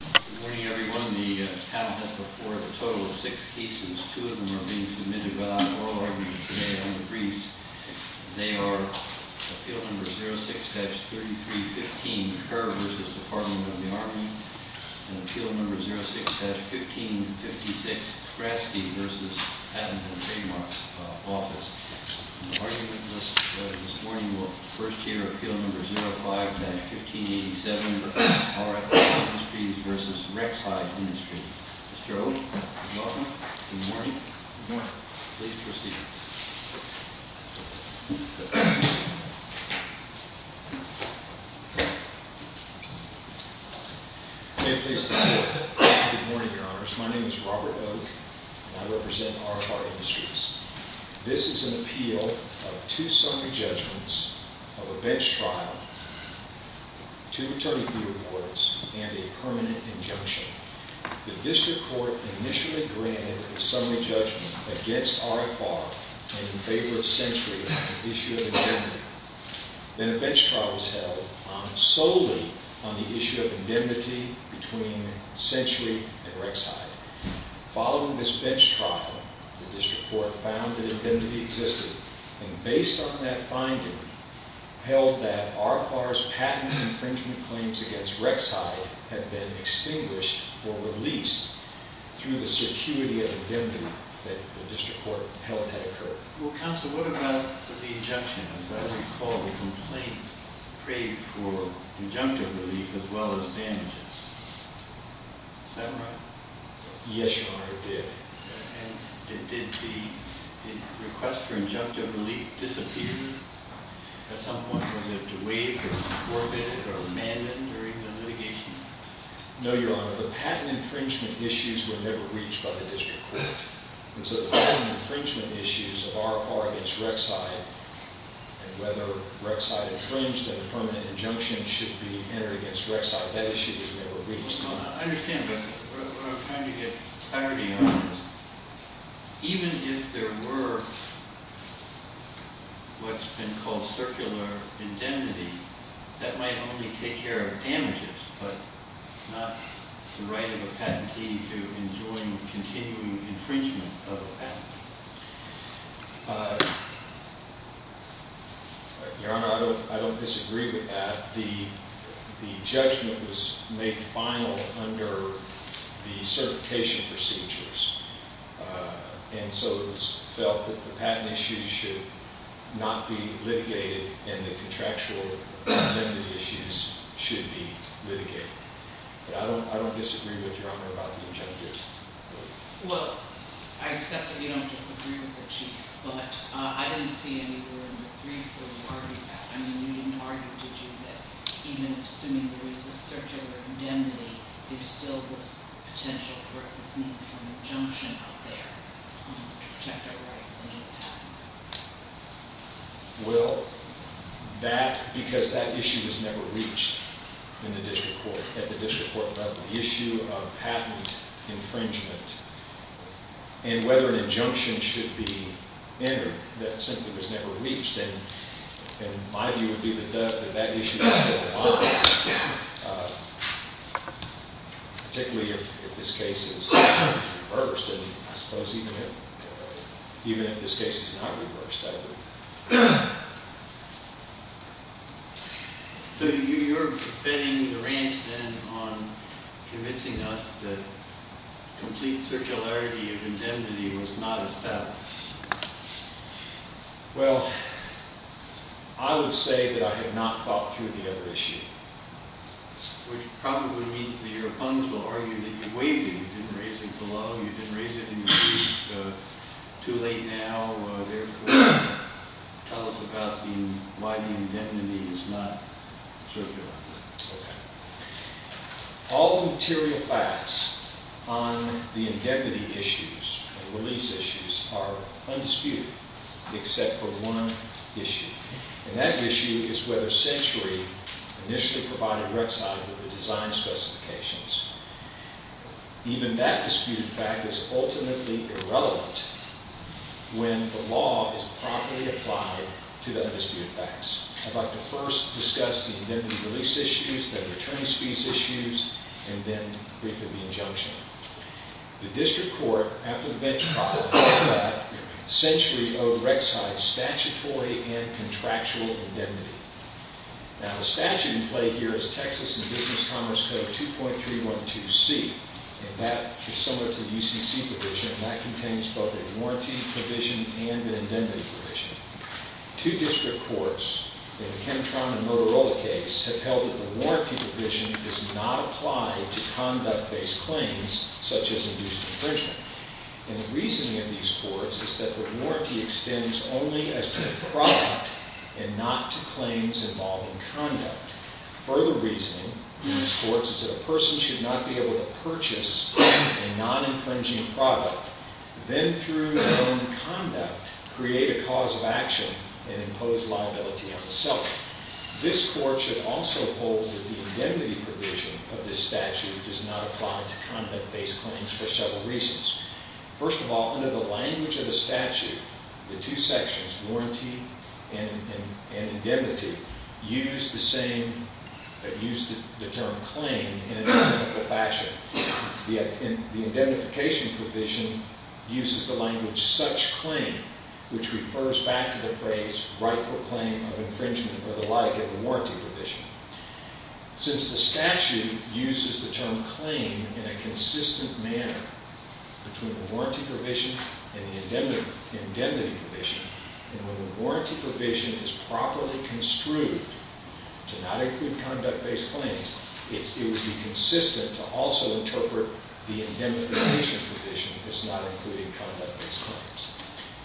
Good morning everyone. The panel had before it a total of six cases. Two of them are being submitted without an oral argument today on the briefs. They are Appeal No. 06-3315, Kerr v. Department of the Army, and Appeal No. 06-1556, Krasky v. Patton v. Tremont Office. The argument this morning will first hear Appeal No. 05-1587, RFR Industries v. Rex-Hide Industries. Mr. Oak, welcome. Good morning. Good morning. Please proceed. May it please the court. Good morning, Your Honors. My name is Robert Oak, and I represent RFR Industries. This is an appeal of two summary judgments of a bench trial, two attorney peer reports, and a permanent injunction. The district court initially granted a summary judgment against RFR and in favor of Century on the issue of indemnity. Then a bench trial was held solely on the issue of indemnity between Century and Rex-Hide. Following this bench trial, the district court found that indemnity existed, and based on that finding, held that RFR's patent infringement claims against Rex-Hide had been extinguished or released through the circuity of indemnity that the district court held had occurred. Well, counsel, what about the injunction? As I recall, the complaint prayed for injunctive relief as well as damages. Is that right? Yes, Your Honor, it did. And did the request for injunctive relief disappear at some point? Was it waived or forfeited or abandoned during the litigation? No, Your Honor. The patent infringement issues were never reached by the district court. And so the patent infringement issues of RFR against Rex-Hide and whether Rex-Hide infringed and a permanent injunction should be entered against Rex-Hide, that issue was never reached. I understand, but what I'm trying to get clarity on is even if there were what's been called circular indemnity, that might only take care of damages, but not the right of a patentee to enjoin continuing infringement of a patent. Your Honor, I don't disagree with that. The judgment was made final under the certification procedures. And so it was felt that the patent issues should not be litigated and the contractual indemnity issues should be litigated. But I don't disagree with Your Honor about the injunctive relief. Well, I accept that you don't disagree with the Chief, but I didn't see anywhere in the brief where you argued that. I mean, you didn't argue, did you, that even assuming there is this circular indemnity, there's still this potential for this need for an injunction out there to protect our rights and the patent? Well, that, because that issue was never reached in the district court, at the district court level. The issue of patent infringement and whether an injunction should be entered, that simply was never reached. And my view would be that that issue is still alive, particularly if this case is reversed. And I suppose even if this case is not reversed, that would be. So you're betting the ranch, then, on convincing us that complete circularity of indemnity was not established? Well, I would say that I have not thought through the other issue. Which probably means that your opponents will argue that you waived it. You didn't raise it below, you didn't raise it in your brief. Too late now, therefore, tell us about why the indemnity is not circular. All material facts on the indemnity issues, the release issues, are undisputed, except for one issue. And that issue is whether Century initially provided rec side with the design specifications. Even that disputed fact is ultimately irrelevant when the law is promptly applied to the undisputed facts. I'd like to first discuss the indemnity release issues, the return speech issues, and then briefly the injunction. The district court, after the bench trial, had Century owe rec side statutory and contractual indemnity. Now the statute in play here is Texas and Business Commerce Code 2.312C. And that is similar to the UCC provision, and that contains both a warranty provision and an indemnity provision. Two district courts in the Chemtron and Motorola case have held that the warranty provision does not apply to conduct-based claims, such as induced infringement. And the reasoning of these courts is that the warranty extends only as to the product and not to claims involving conduct. Further reasoning in these courts is that a person should not be able to purchase a non-infringing product, then through non-conduct create a cause of action and impose liability on the seller. This court should also hold that the indemnity provision of this statute does not apply to conduct-based claims for several reasons. First of all, under the language of the statute, the two sections, warranty and indemnity, use the term claim in an identical fashion. The indemnification provision uses the language such claim, which refers back to the phrase rightful claim of infringement or the like of the warranty provision. Since the statute uses the term claim in a consistent manner between the warranty provision and the indemnity provision, and when the warranty provision is properly construed to not include conduct-based claims, it would be consistent to also interpret the indemnification provision as not including conduct-based claims.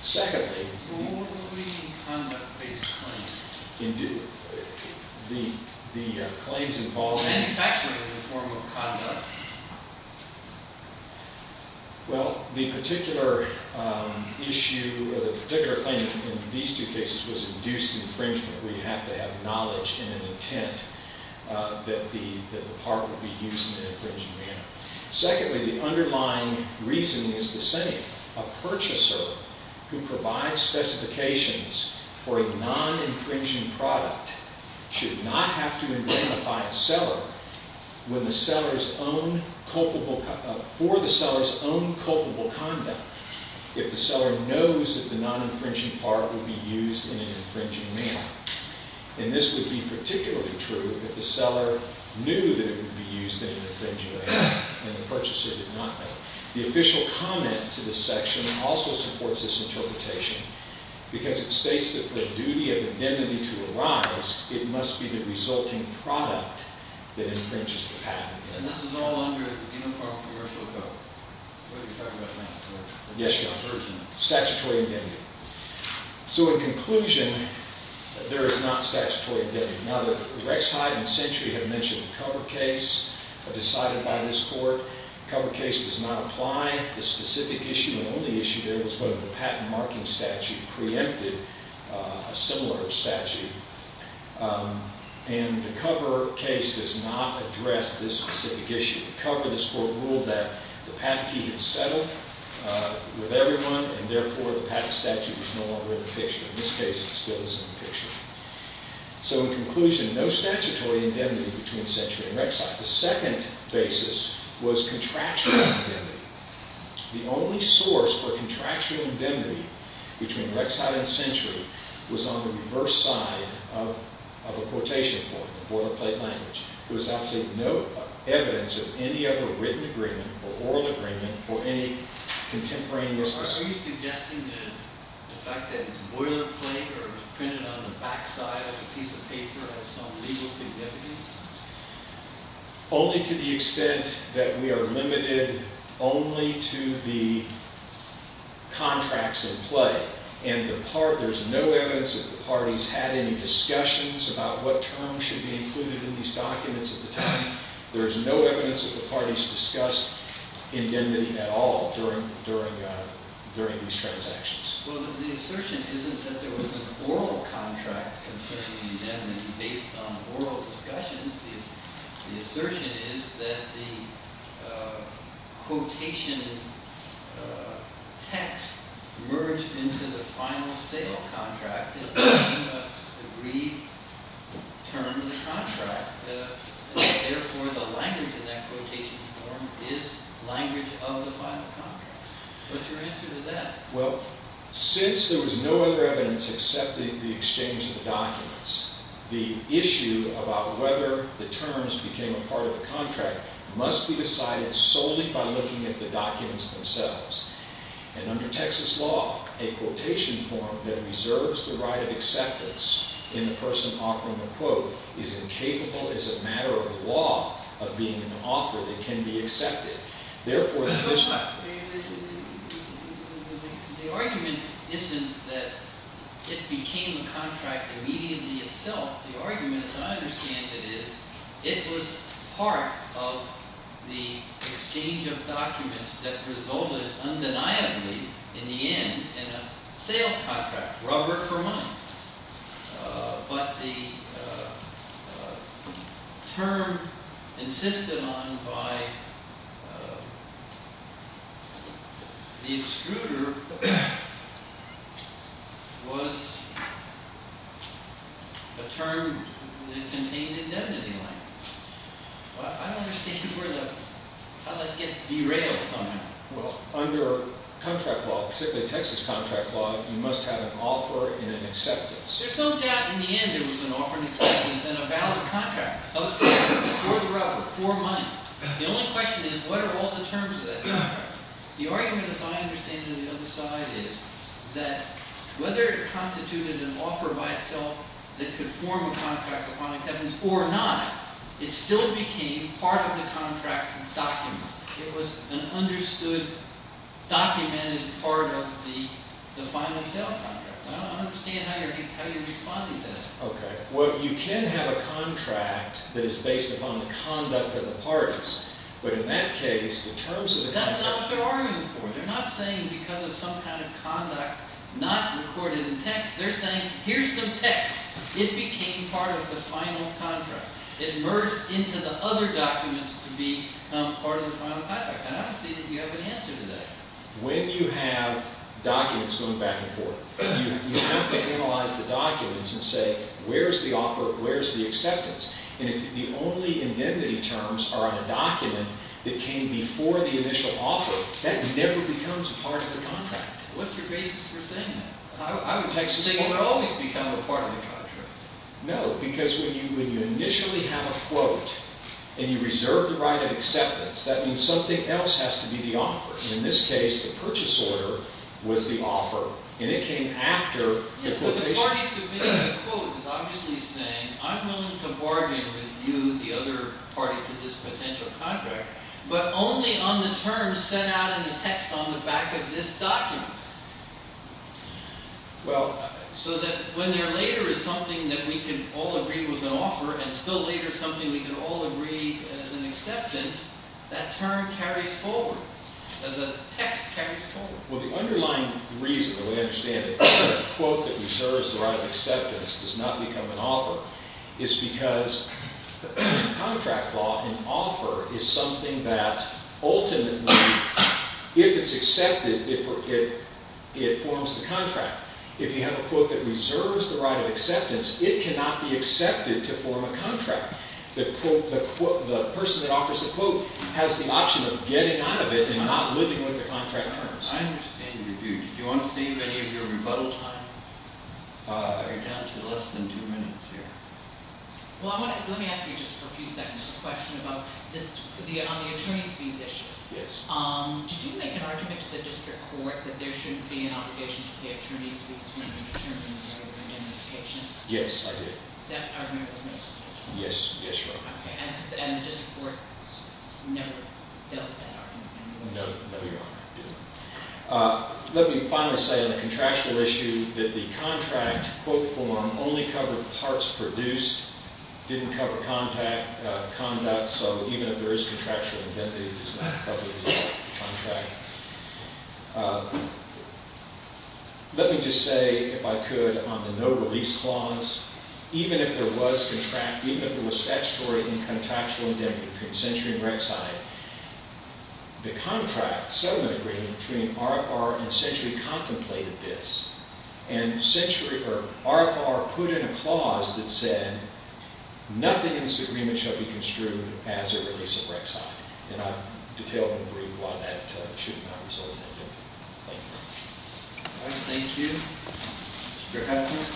Secondly... Who would be in conduct-based claims? Indeed. The claims involving... Manufacturing is a form of conduct. Well, the particular claim in these two cases was induced infringement. We have to have knowledge and an intent that the part would be used in an infringing manner. Secondly, the underlying reason is the same. A purchaser who provides specifications for a non-infringing product should not have to ingramify a seller for the seller's own culpable conduct if the seller knows that the non-infringing part would be used in an infringing manner. And this would be particularly true if the seller knew that it would be used in an infringing manner and the purchaser did not know. The official comment to this section also supports this interpretation because it states that for the duty of indemnity to arise, it must be the resulting product that infringes the patent. And this is all under Uniform Commercial Code? Yes, Your Honor. Statutory indemnity. So, in conclusion, there is not statutory indemnity. Now, Rex Hyde and Century have mentioned the cover case decided by this Court. The cover case does not apply. The specific issue and only issue there was whether the patent marking statute preempted a similar statute. And the cover case does not address this specific issue. The cover of this Court ruled that the patentee had settled with everyone and, therefore, the patent statute was no longer in the picture. In this case, it still is in the picture. So, in conclusion, no statutory indemnity between Century and Rex Hyde. The second basis was contractual indemnity. The only source for contractual indemnity between Rex Hyde and Century was on the reverse side of a quotation form, the boilerplate language. There was absolutely no evidence of any other written agreement or oral agreement or any contemporaneous discussion. Are you suggesting that the fact that it's boilerplate or printed on the back side of a piece of paper has some legal significance? Only to the extent that we are limited only to the contracts in play. And there's no evidence that the parties had any discussions about what terms should be included in these documents at the time. There's no evidence that the parties discussed indemnity at all during these transactions. Well, the assertion isn't that there was an oral contract concerning indemnity based on oral discussions. The assertion is that the quotation text merged into the final sale contract and returned the contract. Therefore, the language in that quotation form is language of the final contract. What's your answer to that? Well, since there was no other evidence except the exchange of the documents, the issue about whether the terms became a part of the contract must be decided solely by looking at the documents themselves. And under Texas law, a quotation form that reserves the right of acceptance in the person offering the quote is incapable as a matter of law of being an offer that can be accepted. The argument isn't that it became a contract immediately itself. The argument, as I understand it, is it was part of the exchange of documents that resulted undeniably in the end in a sale contract, rubber for money. But the term insisted on by the extruder was a term that contained indemnity language. I don't understand how that gets derailed somehow. Well, under contract law, particularly Texas contract law, you must have an offer and an acceptance. There's no doubt in the end there was an offer and acceptance and a valid contract of sale for the rubber, for money. The only question is what are all the terms of that contract? The argument, as I understand it, on the other side is that whether it constituted an offer by itself that could form a contract upon acceptance or not, it still became part of the contract document. It was an understood, documented part of the final sale contract. I don't understand how you're responding to that. OK. Well, you can have a contract that is based upon the conduct of the parties. But in that case, the terms of the contract— That's not what they're arguing for. They're not saying because of some kind of conduct not recorded in text. They're saying, here's some text. It became part of the final contract. It merged into the other documents to become part of the final contract. And I don't see that you have an answer to that. When you have documents going back and forth, you have to analyze the documents and say where's the offer, where's the acceptance. And if the only indemnity terms are on a document that came before the initial offer, that never becomes part of the contract. What's your basis for saying that? I would say it would always become a part of the contract. No, because when you initially have a quote and you reserve the right of acceptance, that means something else has to be the offer. In this case, the purchase order was the offer, and it came after the quotation. Yes, but the party submitting the quote is obviously saying, I'm willing to bargain with you, the other party, for this potential contract, but only on the terms set out in the text on the back of this document. Well, so that when there later is something that we can all agree was an offer and still later something we can all agree is an acceptance, that term carries forward, that the text carries forward. Well, the underlying reason that we understand a quote that reserves the right of acceptance does not become an offer is because contract law, an offer, is something that ultimately, if it's accepted, it forms the contract. If you have a quote that reserves the right of acceptance, it cannot be accepted to form a contract. The person that offers the quote has the option of getting out of it and not living with the contract terms. I understand your view. Do you want to save any of your rebuttal time? You're down to less than two minutes here. Well, let me ask you just for a few seconds a question about the attorney's fees issue. Yes. Did you make an argument to the district court that there shouldn't be an obligation to pay attorney's fees when you determine whether there's an indication? Yes, I did. That argument was made? Yes, yes, Your Honor. Okay, and the district court never held that argument? No, no, Your Honor, it didn't. Let me finally say on the contractual issue that the contract quote form only covered parts produced, didn't cover conduct, so even if there is contractual indemnity, it does not cover the contract. Let me just say, if I could, on the no-release clause, even if there was contract, even if there was statutory and contractual indemnity between Century and Rexheim, the contract settlement agreement between RFR and Century contemplated this and Century, or RFR, put in a clause that said nothing in this agreement shall be construed as a release of Rexheim. And I've detailed and proved why that should not result in an indemnity. Thank you. All right, thank you. Mr. Kirkpatrick.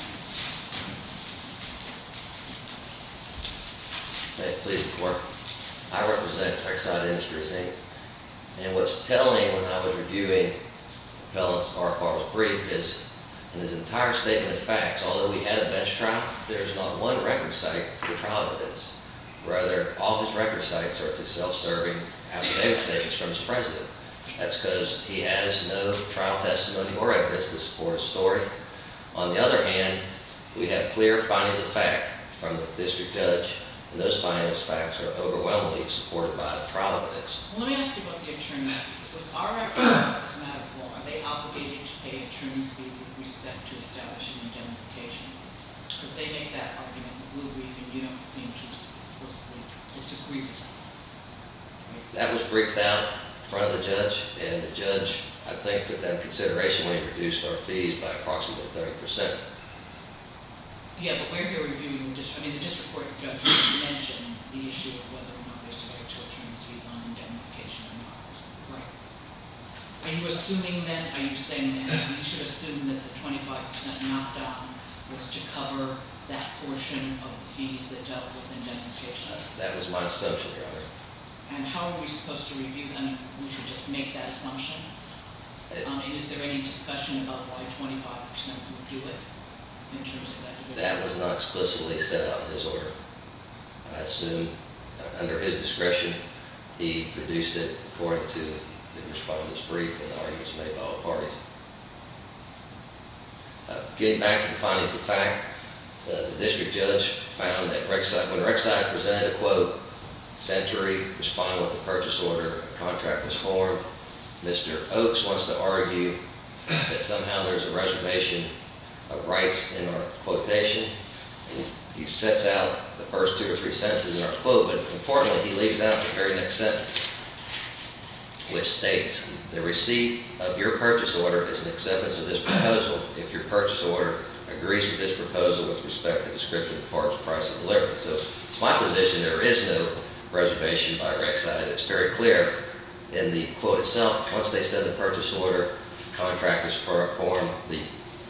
May it please the Court? I represent Rexheim Industries, Inc., and what's telling when I was reviewing the appellant's RFR brief is in his entire statement of facts, although we had a best trial, there is not one record cite to the trial evidence. Rather, all his record cites are to self-serving affidavit statements from his president. That's because he has no trial testimony or evidence to support his story. On the other hand, we have clear findings of fact from the district judge, and those findings, facts, are overwhelmingly supported by the trial evidence. Let me ask you about the attorney's fees. With RFR, what does it matter for? Are they obligated to pay attorney's fees with respect to establishing indemnification? Because they make that argument in the blue brief, and you don't seem to explicitly disagree with that. That was briefed out in front of the judge, and the judge, I think, took that into consideration when he reduced our fees by approximately 30%. Yeah, but we're here reviewing the district court judge's mention, the issue of whether or not there's a right to attorney's fees on indemnification. Right. Are you assuming then, are you saying that we should assume that the 25% knockdown was to cover that portion of the fees that dealt with indemnification? That was my assumption, Your Honor. And how are we supposed to review that? I mean, we should just make that assumption? And is there any discussion about why 25% would do it in terms of that division? That was not explicitly set out in his order. I assume under his discretion, he produced it according to the respondent's brief and the arguments made by all parties. Getting back to the findings of fact, the district judge found that when Rickside presented a quote, century, respond with a purchase order, contract was formed, Mr. Oaks wants to argue that somehow there's a reservation of rights in our quotation. He sets out the first two or three sentences in our quote, but importantly, he leaves out the very next sentence, which states, the receipt of your purchase order is an acceptance of this proposal if your purchase order agrees with this proposal with respect to the description of the part's price of delivery. So it's my position there is no reservation by Rickside. It's very clear in the quote itself. Once they said the purchase order, contract is formed, the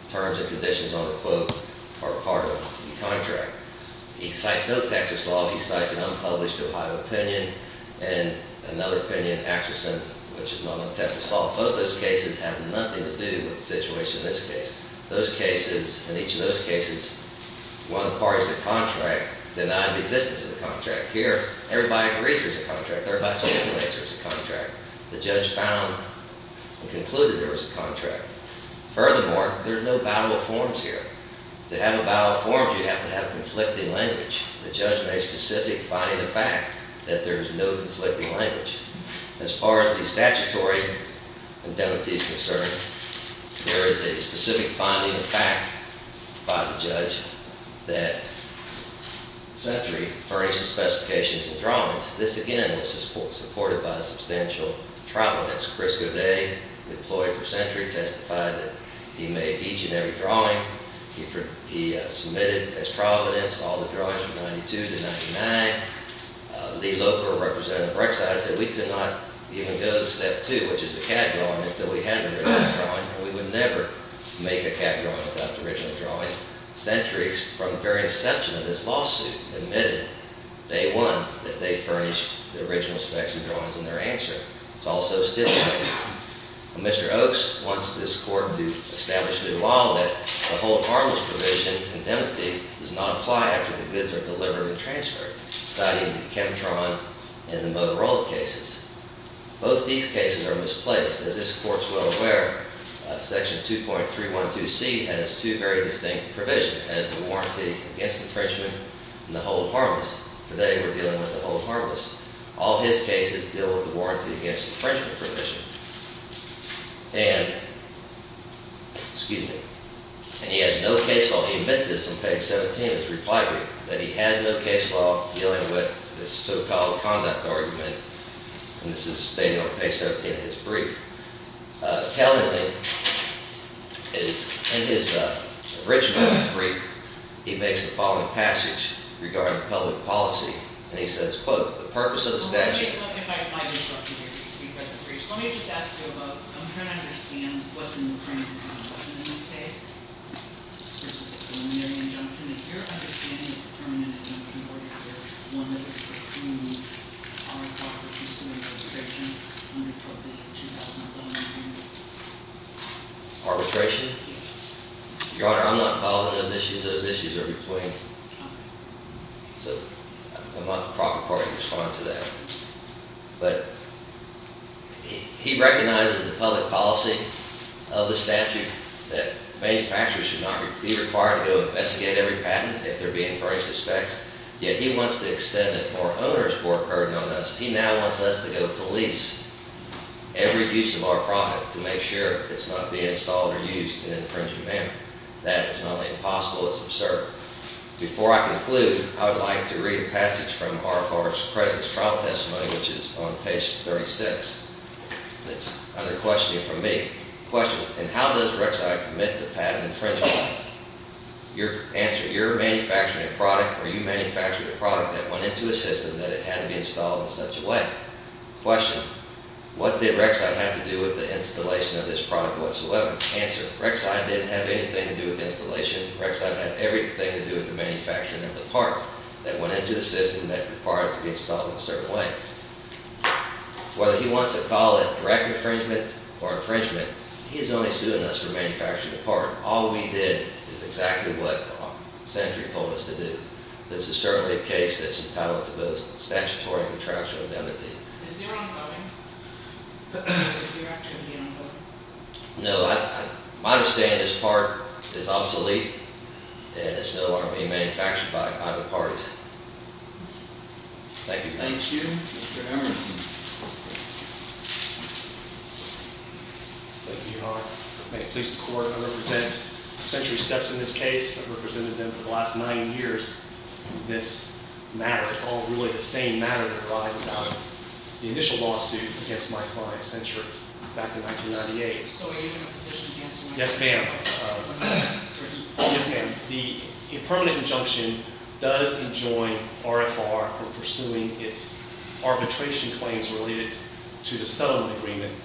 terms and conditions on the quote are part of the contract. He cites no Texas law. He cites an unpublished Ohio opinion and another opinion, Axelson, which is not a Texas law. Both those cases have nothing to do with the situation in this case. Those cases, in each of those cases, one of the parties of the contract denied the existence of the contract. Here, everybody agrees there's a contract. Everybody stipulates there's a contract. The judge found and concluded there was a contract. Furthermore, there's no battle of forms here. To have a battle of forms, you have to have conflicting language. The judge made specific finding of fact that there's no conflicting language. As far as the statutory indemnity is concerned, there is a specific finding of fact by the judge that Century furnished the specifications and drawings. This, again, was supported by substantial providence. Chris Gaudet, the employee for Century, testified that he made each and every drawing. He submitted as providence all the drawings from 92 to 99. Lee Loper, representative of Brexiter, said we could not even go to step two, which is the cat drawing, until we had the original drawing, and we would never make a cat drawing without the original drawing. Century, from the very inception of this lawsuit, admitted, day one, that they furnished the original specs and drawings in their answer. It's also stipulated. Mr. Oaks wants this court to establish a new law that a whole-of-farmers provision, indemnity, does not apply after the goods are delivered and transferred, citing the Chemtron and the Motorola cases. Both these cases are misplaced. As this court's well aware, Section 2.312C has two very distinct provisions. It has the warranty against infringement and the whole-of-farmers. Today, we're dealing with the whole-of-farmers. All his cases deal with the warranty against infringement provision. And, excuse me, and he has no case law. He admits this in page 17 of his reply brief, that he has no case law dealing with this so-called conduct argument. And this is stated on page 17 of his brief. Telling him, in his original brief, he makes the following passage regarding public policy, and he says, quote, The purpose of the statute Arbitration? Yes. Your Honor, I'm not following those issues. Those issues are between. Okay. So, I'm not the proper court to respond to that. But, he recognizes the public policy of the statute that manufacturers should not be required to go investigate every patent if they're being infringed with specs. Yet, he wants to extend it for owners who are burdened on us. He now wants us to go police every use of our product to make sure it's not being installed or used in an infringing manner. That is not only impossible, it's absurd. Before I conclude, I would like to read a passage from RFR's present trial testimony, which is on page 36. That's under questioning from me. Question, and how does RECSCI commit to patent infringement? Your answer, you're manufacturing a product, or you manufactured a product that went into a system that it had to be installed in such a way. Question, what did RECSCI have to do with the installation of this product whatsoever? Answer, RECSCI didn't have anything to do with installation. RECSCI had everything to do with the manufacturing of the part that went into the system that required it to be installed in a certain way. Whether he wants to call it direct infringement or infringement, he's only suing us for manufacturing the part. All we did is exactly what Century told us to do. This is certainly a case that's entitled to both statutory and contractual indemnity. Is there ongoing? Is there actually ongoing? No, my understanding of this part is obsolete, and it's no longer being manufactured by other parties. Thank you. Thank you. Thank you, Your Honor. May it please the Court, I represent Century Steps in this case. I've represented them for the last nine years in this matter. It's all really the same matter that arises out of the initial lawsuit against my client Century back in 1998. So are you in a position to answer my question? Yes, ma'am. Yes, ma'am. The permanent injunction does enjoin RFR from pursuing its arbitration claims related to the settlement agreement.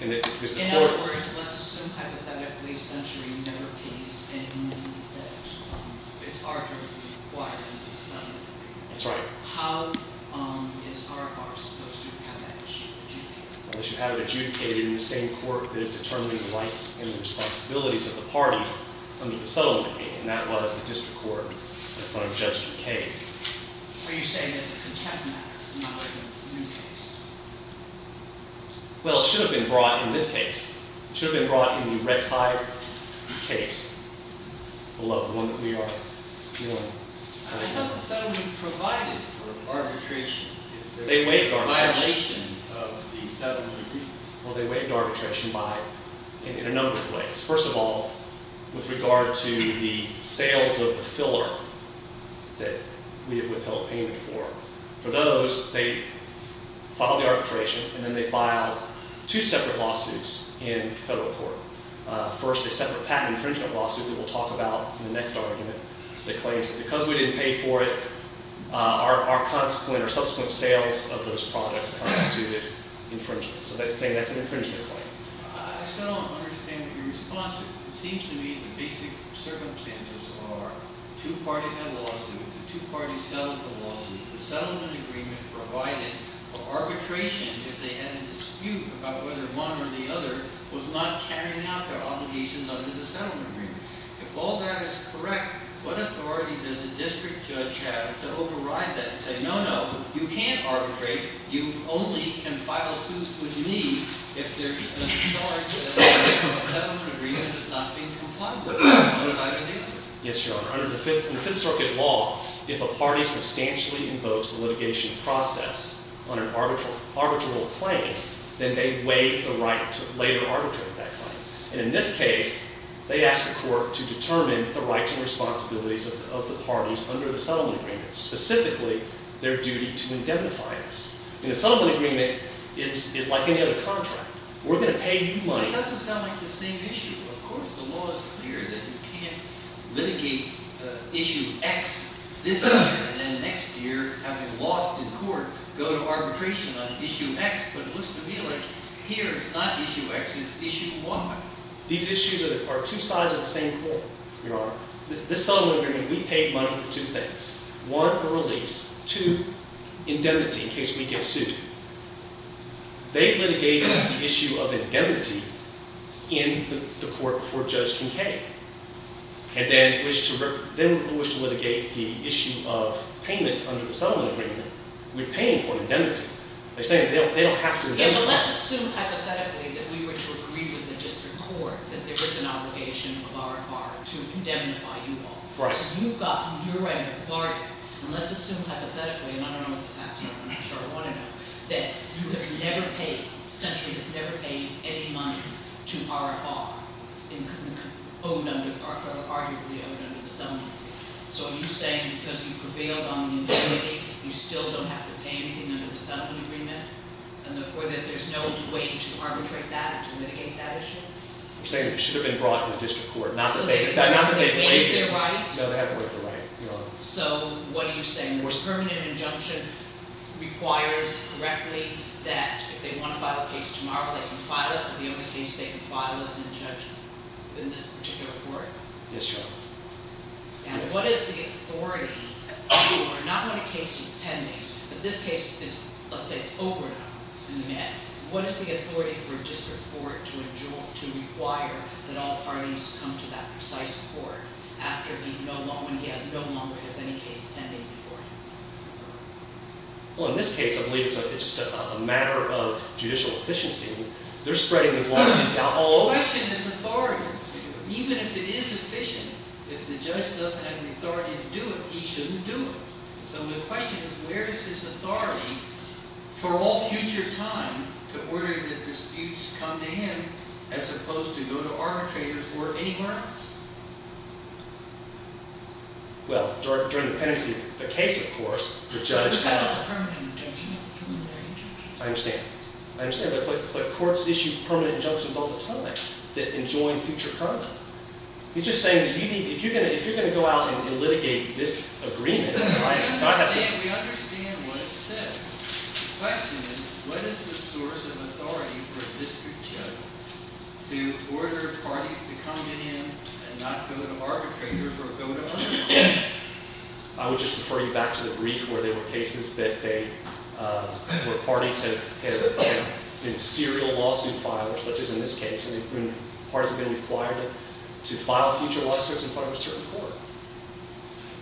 In other words, let's assume hypothetically Century never appeased any money that is arguably required under the settlement agreement. That's right. How is RFR supposed to have that issue adjudicated? It should have it adjudicated in the same court that is determining the rights and the responsibilities of the parties under the settlement agreement, and that was the district court in front of Judge McKay. Are you saying it's a contempt matter, not like a new case? Well, it should have been brought in this case. It should have been brought in the red-tie case below, the one that we are dealing with. How is the settlement provided for arbitration if there is a violation of the settlement agreement? Well, they waived arbitration in a number of ways. First of all, with regard to the sales of the filler that we have withheld payment for. For those, they filed the arbitration, and then they filed two separate lawsuits in federal court. First, a separate patent infringement lawsuit that we'll talk about in the next argument that claims that because we didn't pay for it, our subsequent sales of those products constituted infringement. So they're saying that's an infringement claim. I still don't understand your response. It seems to me the basic circumstances are two parties have a lawsuit. The two parties settled the lawsuit. The settlement agreement provided for arbitration if they had a dispute about whether one or the other was not carrying out their obligations under the settlement agreement. If all that is correct, what authority does the district judge have to override that and say, no, no, you can't arbitrate. You only can file a suit with me if there's a charge that a settlement agreement is not being complied with. Yes, Your Honor. Under the Fifth Circuit law, if a party substantially invokes a litigation process on an arbitral claim, then they waive the right to later arbitrate that claim. And in this case, they ask the court to determine the rights and responsibilities of the parties under the settlement agreement. Specifically, their duty to indemnify us. And the settlement agreement is like any other contract. We're going to pay you money. It doesn't sound like the same issue. Of course, the law is clear that you can't litigate Issue X this year and then next year, having lost in court, go to arbitration on Issue X. But it looks to me like here it's not Issue X, it's Issue Y. These issues are two sides of the same coin, Your Honor. The settlement agreement, we paid money for two things. One, a release. Two, indemnity in case we get sued. They litigated the issue of indemnity in the court before Judge Kincaid. And then who was to litigate the issue of payment under the settlement agreement, we're paying for indemnity. They're saying they don't have to indemnify. Yeah, but let's assume hypothetically that we were to agree with the district court that there is an obligation of RFR to indemnify you all. Right. So you've got, you're right, a bargain. And let's assume hypothetically, and I don't know what the facts are, I'm not sure I want to know, that you have never paid, essentially have never paid any money to RFR. Arguably owed under the settlement agreement. So are you saying because you prevailed on the indemnity, you still don't have to pay anything under the settlement agreement? Or that there's no way to arbitrate that and to mitigate that issue? I'm saying it should have been brought to the district court, not that they- So they gained their right? No, they haven't earned their right. So what are you saying? The permanent injunction requires directly that if they want to file a case tomorrow, they can file it. The only case they can file is an injunction in this particular court. Yes, Your Honor. And what is the authority, Your Honor, not when a case is pending, but this case is, let's say, overdue, what is the authority for a district court to require that all parties come to that precise court after he no longer has any case pending before him? Well, in this case, I believe it's just a matter of judicial efficiency. The question is authority. Even if it is efficient, if the judge doesn't have the authority to do it, he shouldn't do it. So the question is, where is his authority for all future time to order that disputes come to him as opposed to go to arbitrators or anywhere else? Well, during the pendency of the case, of course, the judge has- But that's a permanent injunction. I understand. I understand. But courts issue permanent injunctions all the time that enjoin future permanent. He's just saying that if you're going to go out and litigate this agreement- We understand what it says. The question is, what is the source of authority for a district judge to order parties to come to him and not go to arbitrators or go to other courts? I would just refer you back to the brief where there were cases that they- where parties have been serial lawsuit filers, such as in this case. Parties have been required to file future lawsuits in front of a certain court.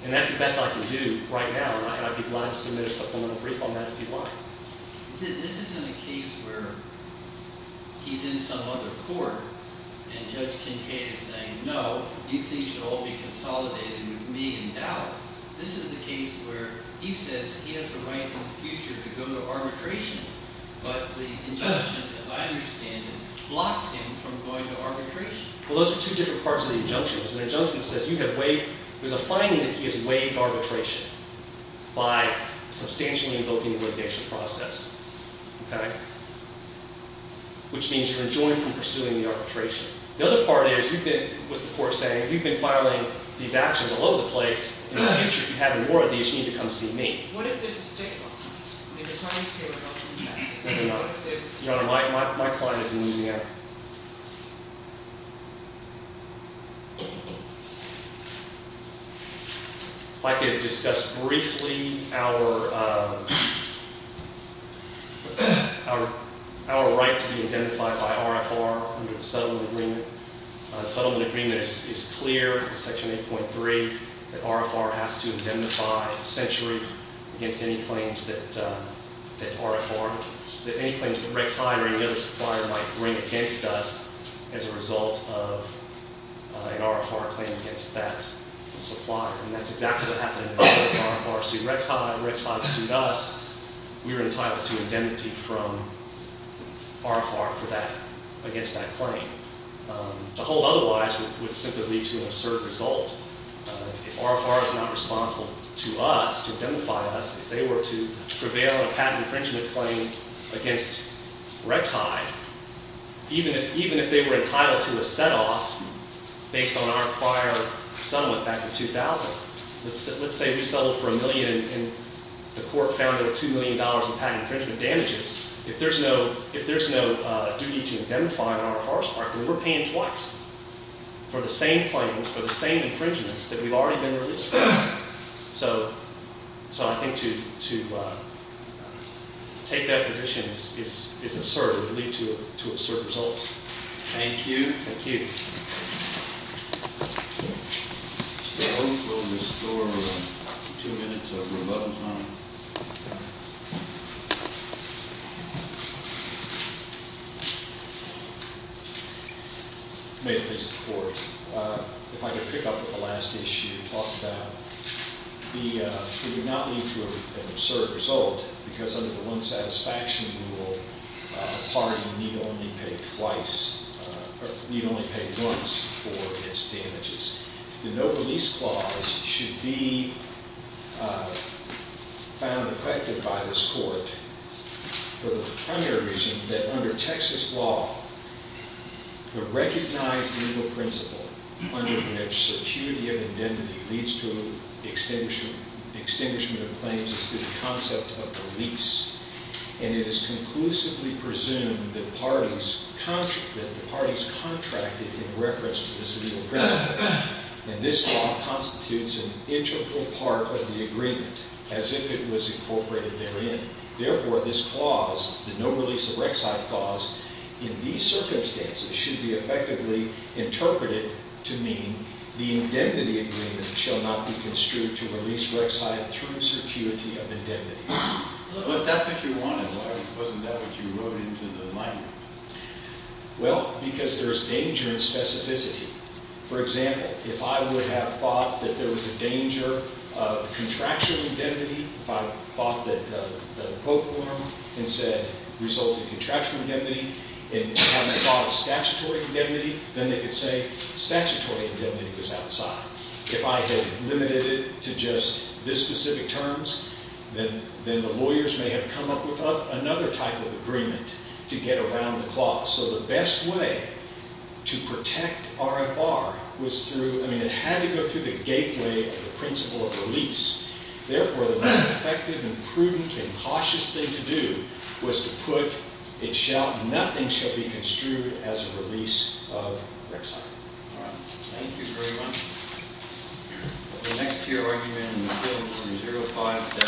And that's the best I can do right now, and I'd be glad to submit a supplemental brief on that if you'd like. This isn't a case where he's in some other court and Judge Kincaid is saying, No, these things should all be consolidated with me in Dallas. This is a case where he says he has a right in the future to go to arbitration, but the injunction, as I understand it, blocks him from going to arbitration. Well, those are two different parts of the injunction. There's an injunction that says you have waived- There's a finding that he has waived arbitration by substantially invoking the litigation process, which means you're enjoined from pursuing the arbitration. The other part is, you've been- what's the court saying? You've been filing these actions all over the place. In the future, if you have more of these, you need to come see me. What if there's a state law? I mean, if attorneys say we're not doing that- No, they're not. If I could discuss briefly our- our right to be identified by RFR under the settlement agreement. The settlement agreement is clear in Section 8.3 that RFR has to identify essentially against any claims that RFR- that any claims that Rex High or any other supplier might bring against us as a result of an RFR claim against that supplier. And that's exactly what happened. RFR sued Rex High, Rex High sued us. We were entitled to indemnity from RFR for that- against that claim. To hold otherwise would simply lead to an absurd result. If RFR is not responsible to us, to identify us, if they were to prevail on a patent infringement claim against Rex High, even if- even if they were entitled to a set-off based on our prior settlement back in 2000, let's say we settled for a million and the court found there were $2 million in patent infringement damages, if there's no- if there's no duty to identify on RFR's part, then we're paying twice for the same claims, for the same infringement that we've already been released from. So- so I think to- to take that position is- is absurd. It would lead to- to absurd results. Thank you. Mr. Holmes, we'll restore two minutes of rebuttal time. May it please the court. If I could pick up on the last issue you talked about. The- it would not lead to an absurd result because under the one satisfaction rule, a party need only pay twice- the no-release clause should be found effective by this court for the primary reason that under Texas law, the recognized legal principle under which security of indemnity leads to extinguishment- extinguishment of claims is the concept of release. And it is conclusively presumed that parties- and this law constitutes an integral part of the agreement as if it was incorporated therein. Therefore, this clause, the no-release of rexite clause, in these circumstances should be effectively interpreted to mean the indemnity agreement shall not be construed to release rexite through circuity of indemnity. Well, if that's what you wanted, why wasn't that what you wrote into the mind? Well, because there's danger in specificity. For example, if I would have thought that there was a danger of contractual indemnity, if I thought that the quote form and said resulted in contractual indemnity and hadn't thought of statutory indemnity, then they could say statutory indemnity was outside. If I had limited it to just this specific terms, then the lawyers may have come up with another type of agreement to get around the clause. So the best way to protect RFR was through- I mean, it had to go through the gateway of the principle of release. Therefore, the most effective and prudent and cautious thing to do was to put it shall- nothing shall be construed as a release of rexite. All right. Thank you very much. The next peer argument in Bill 105-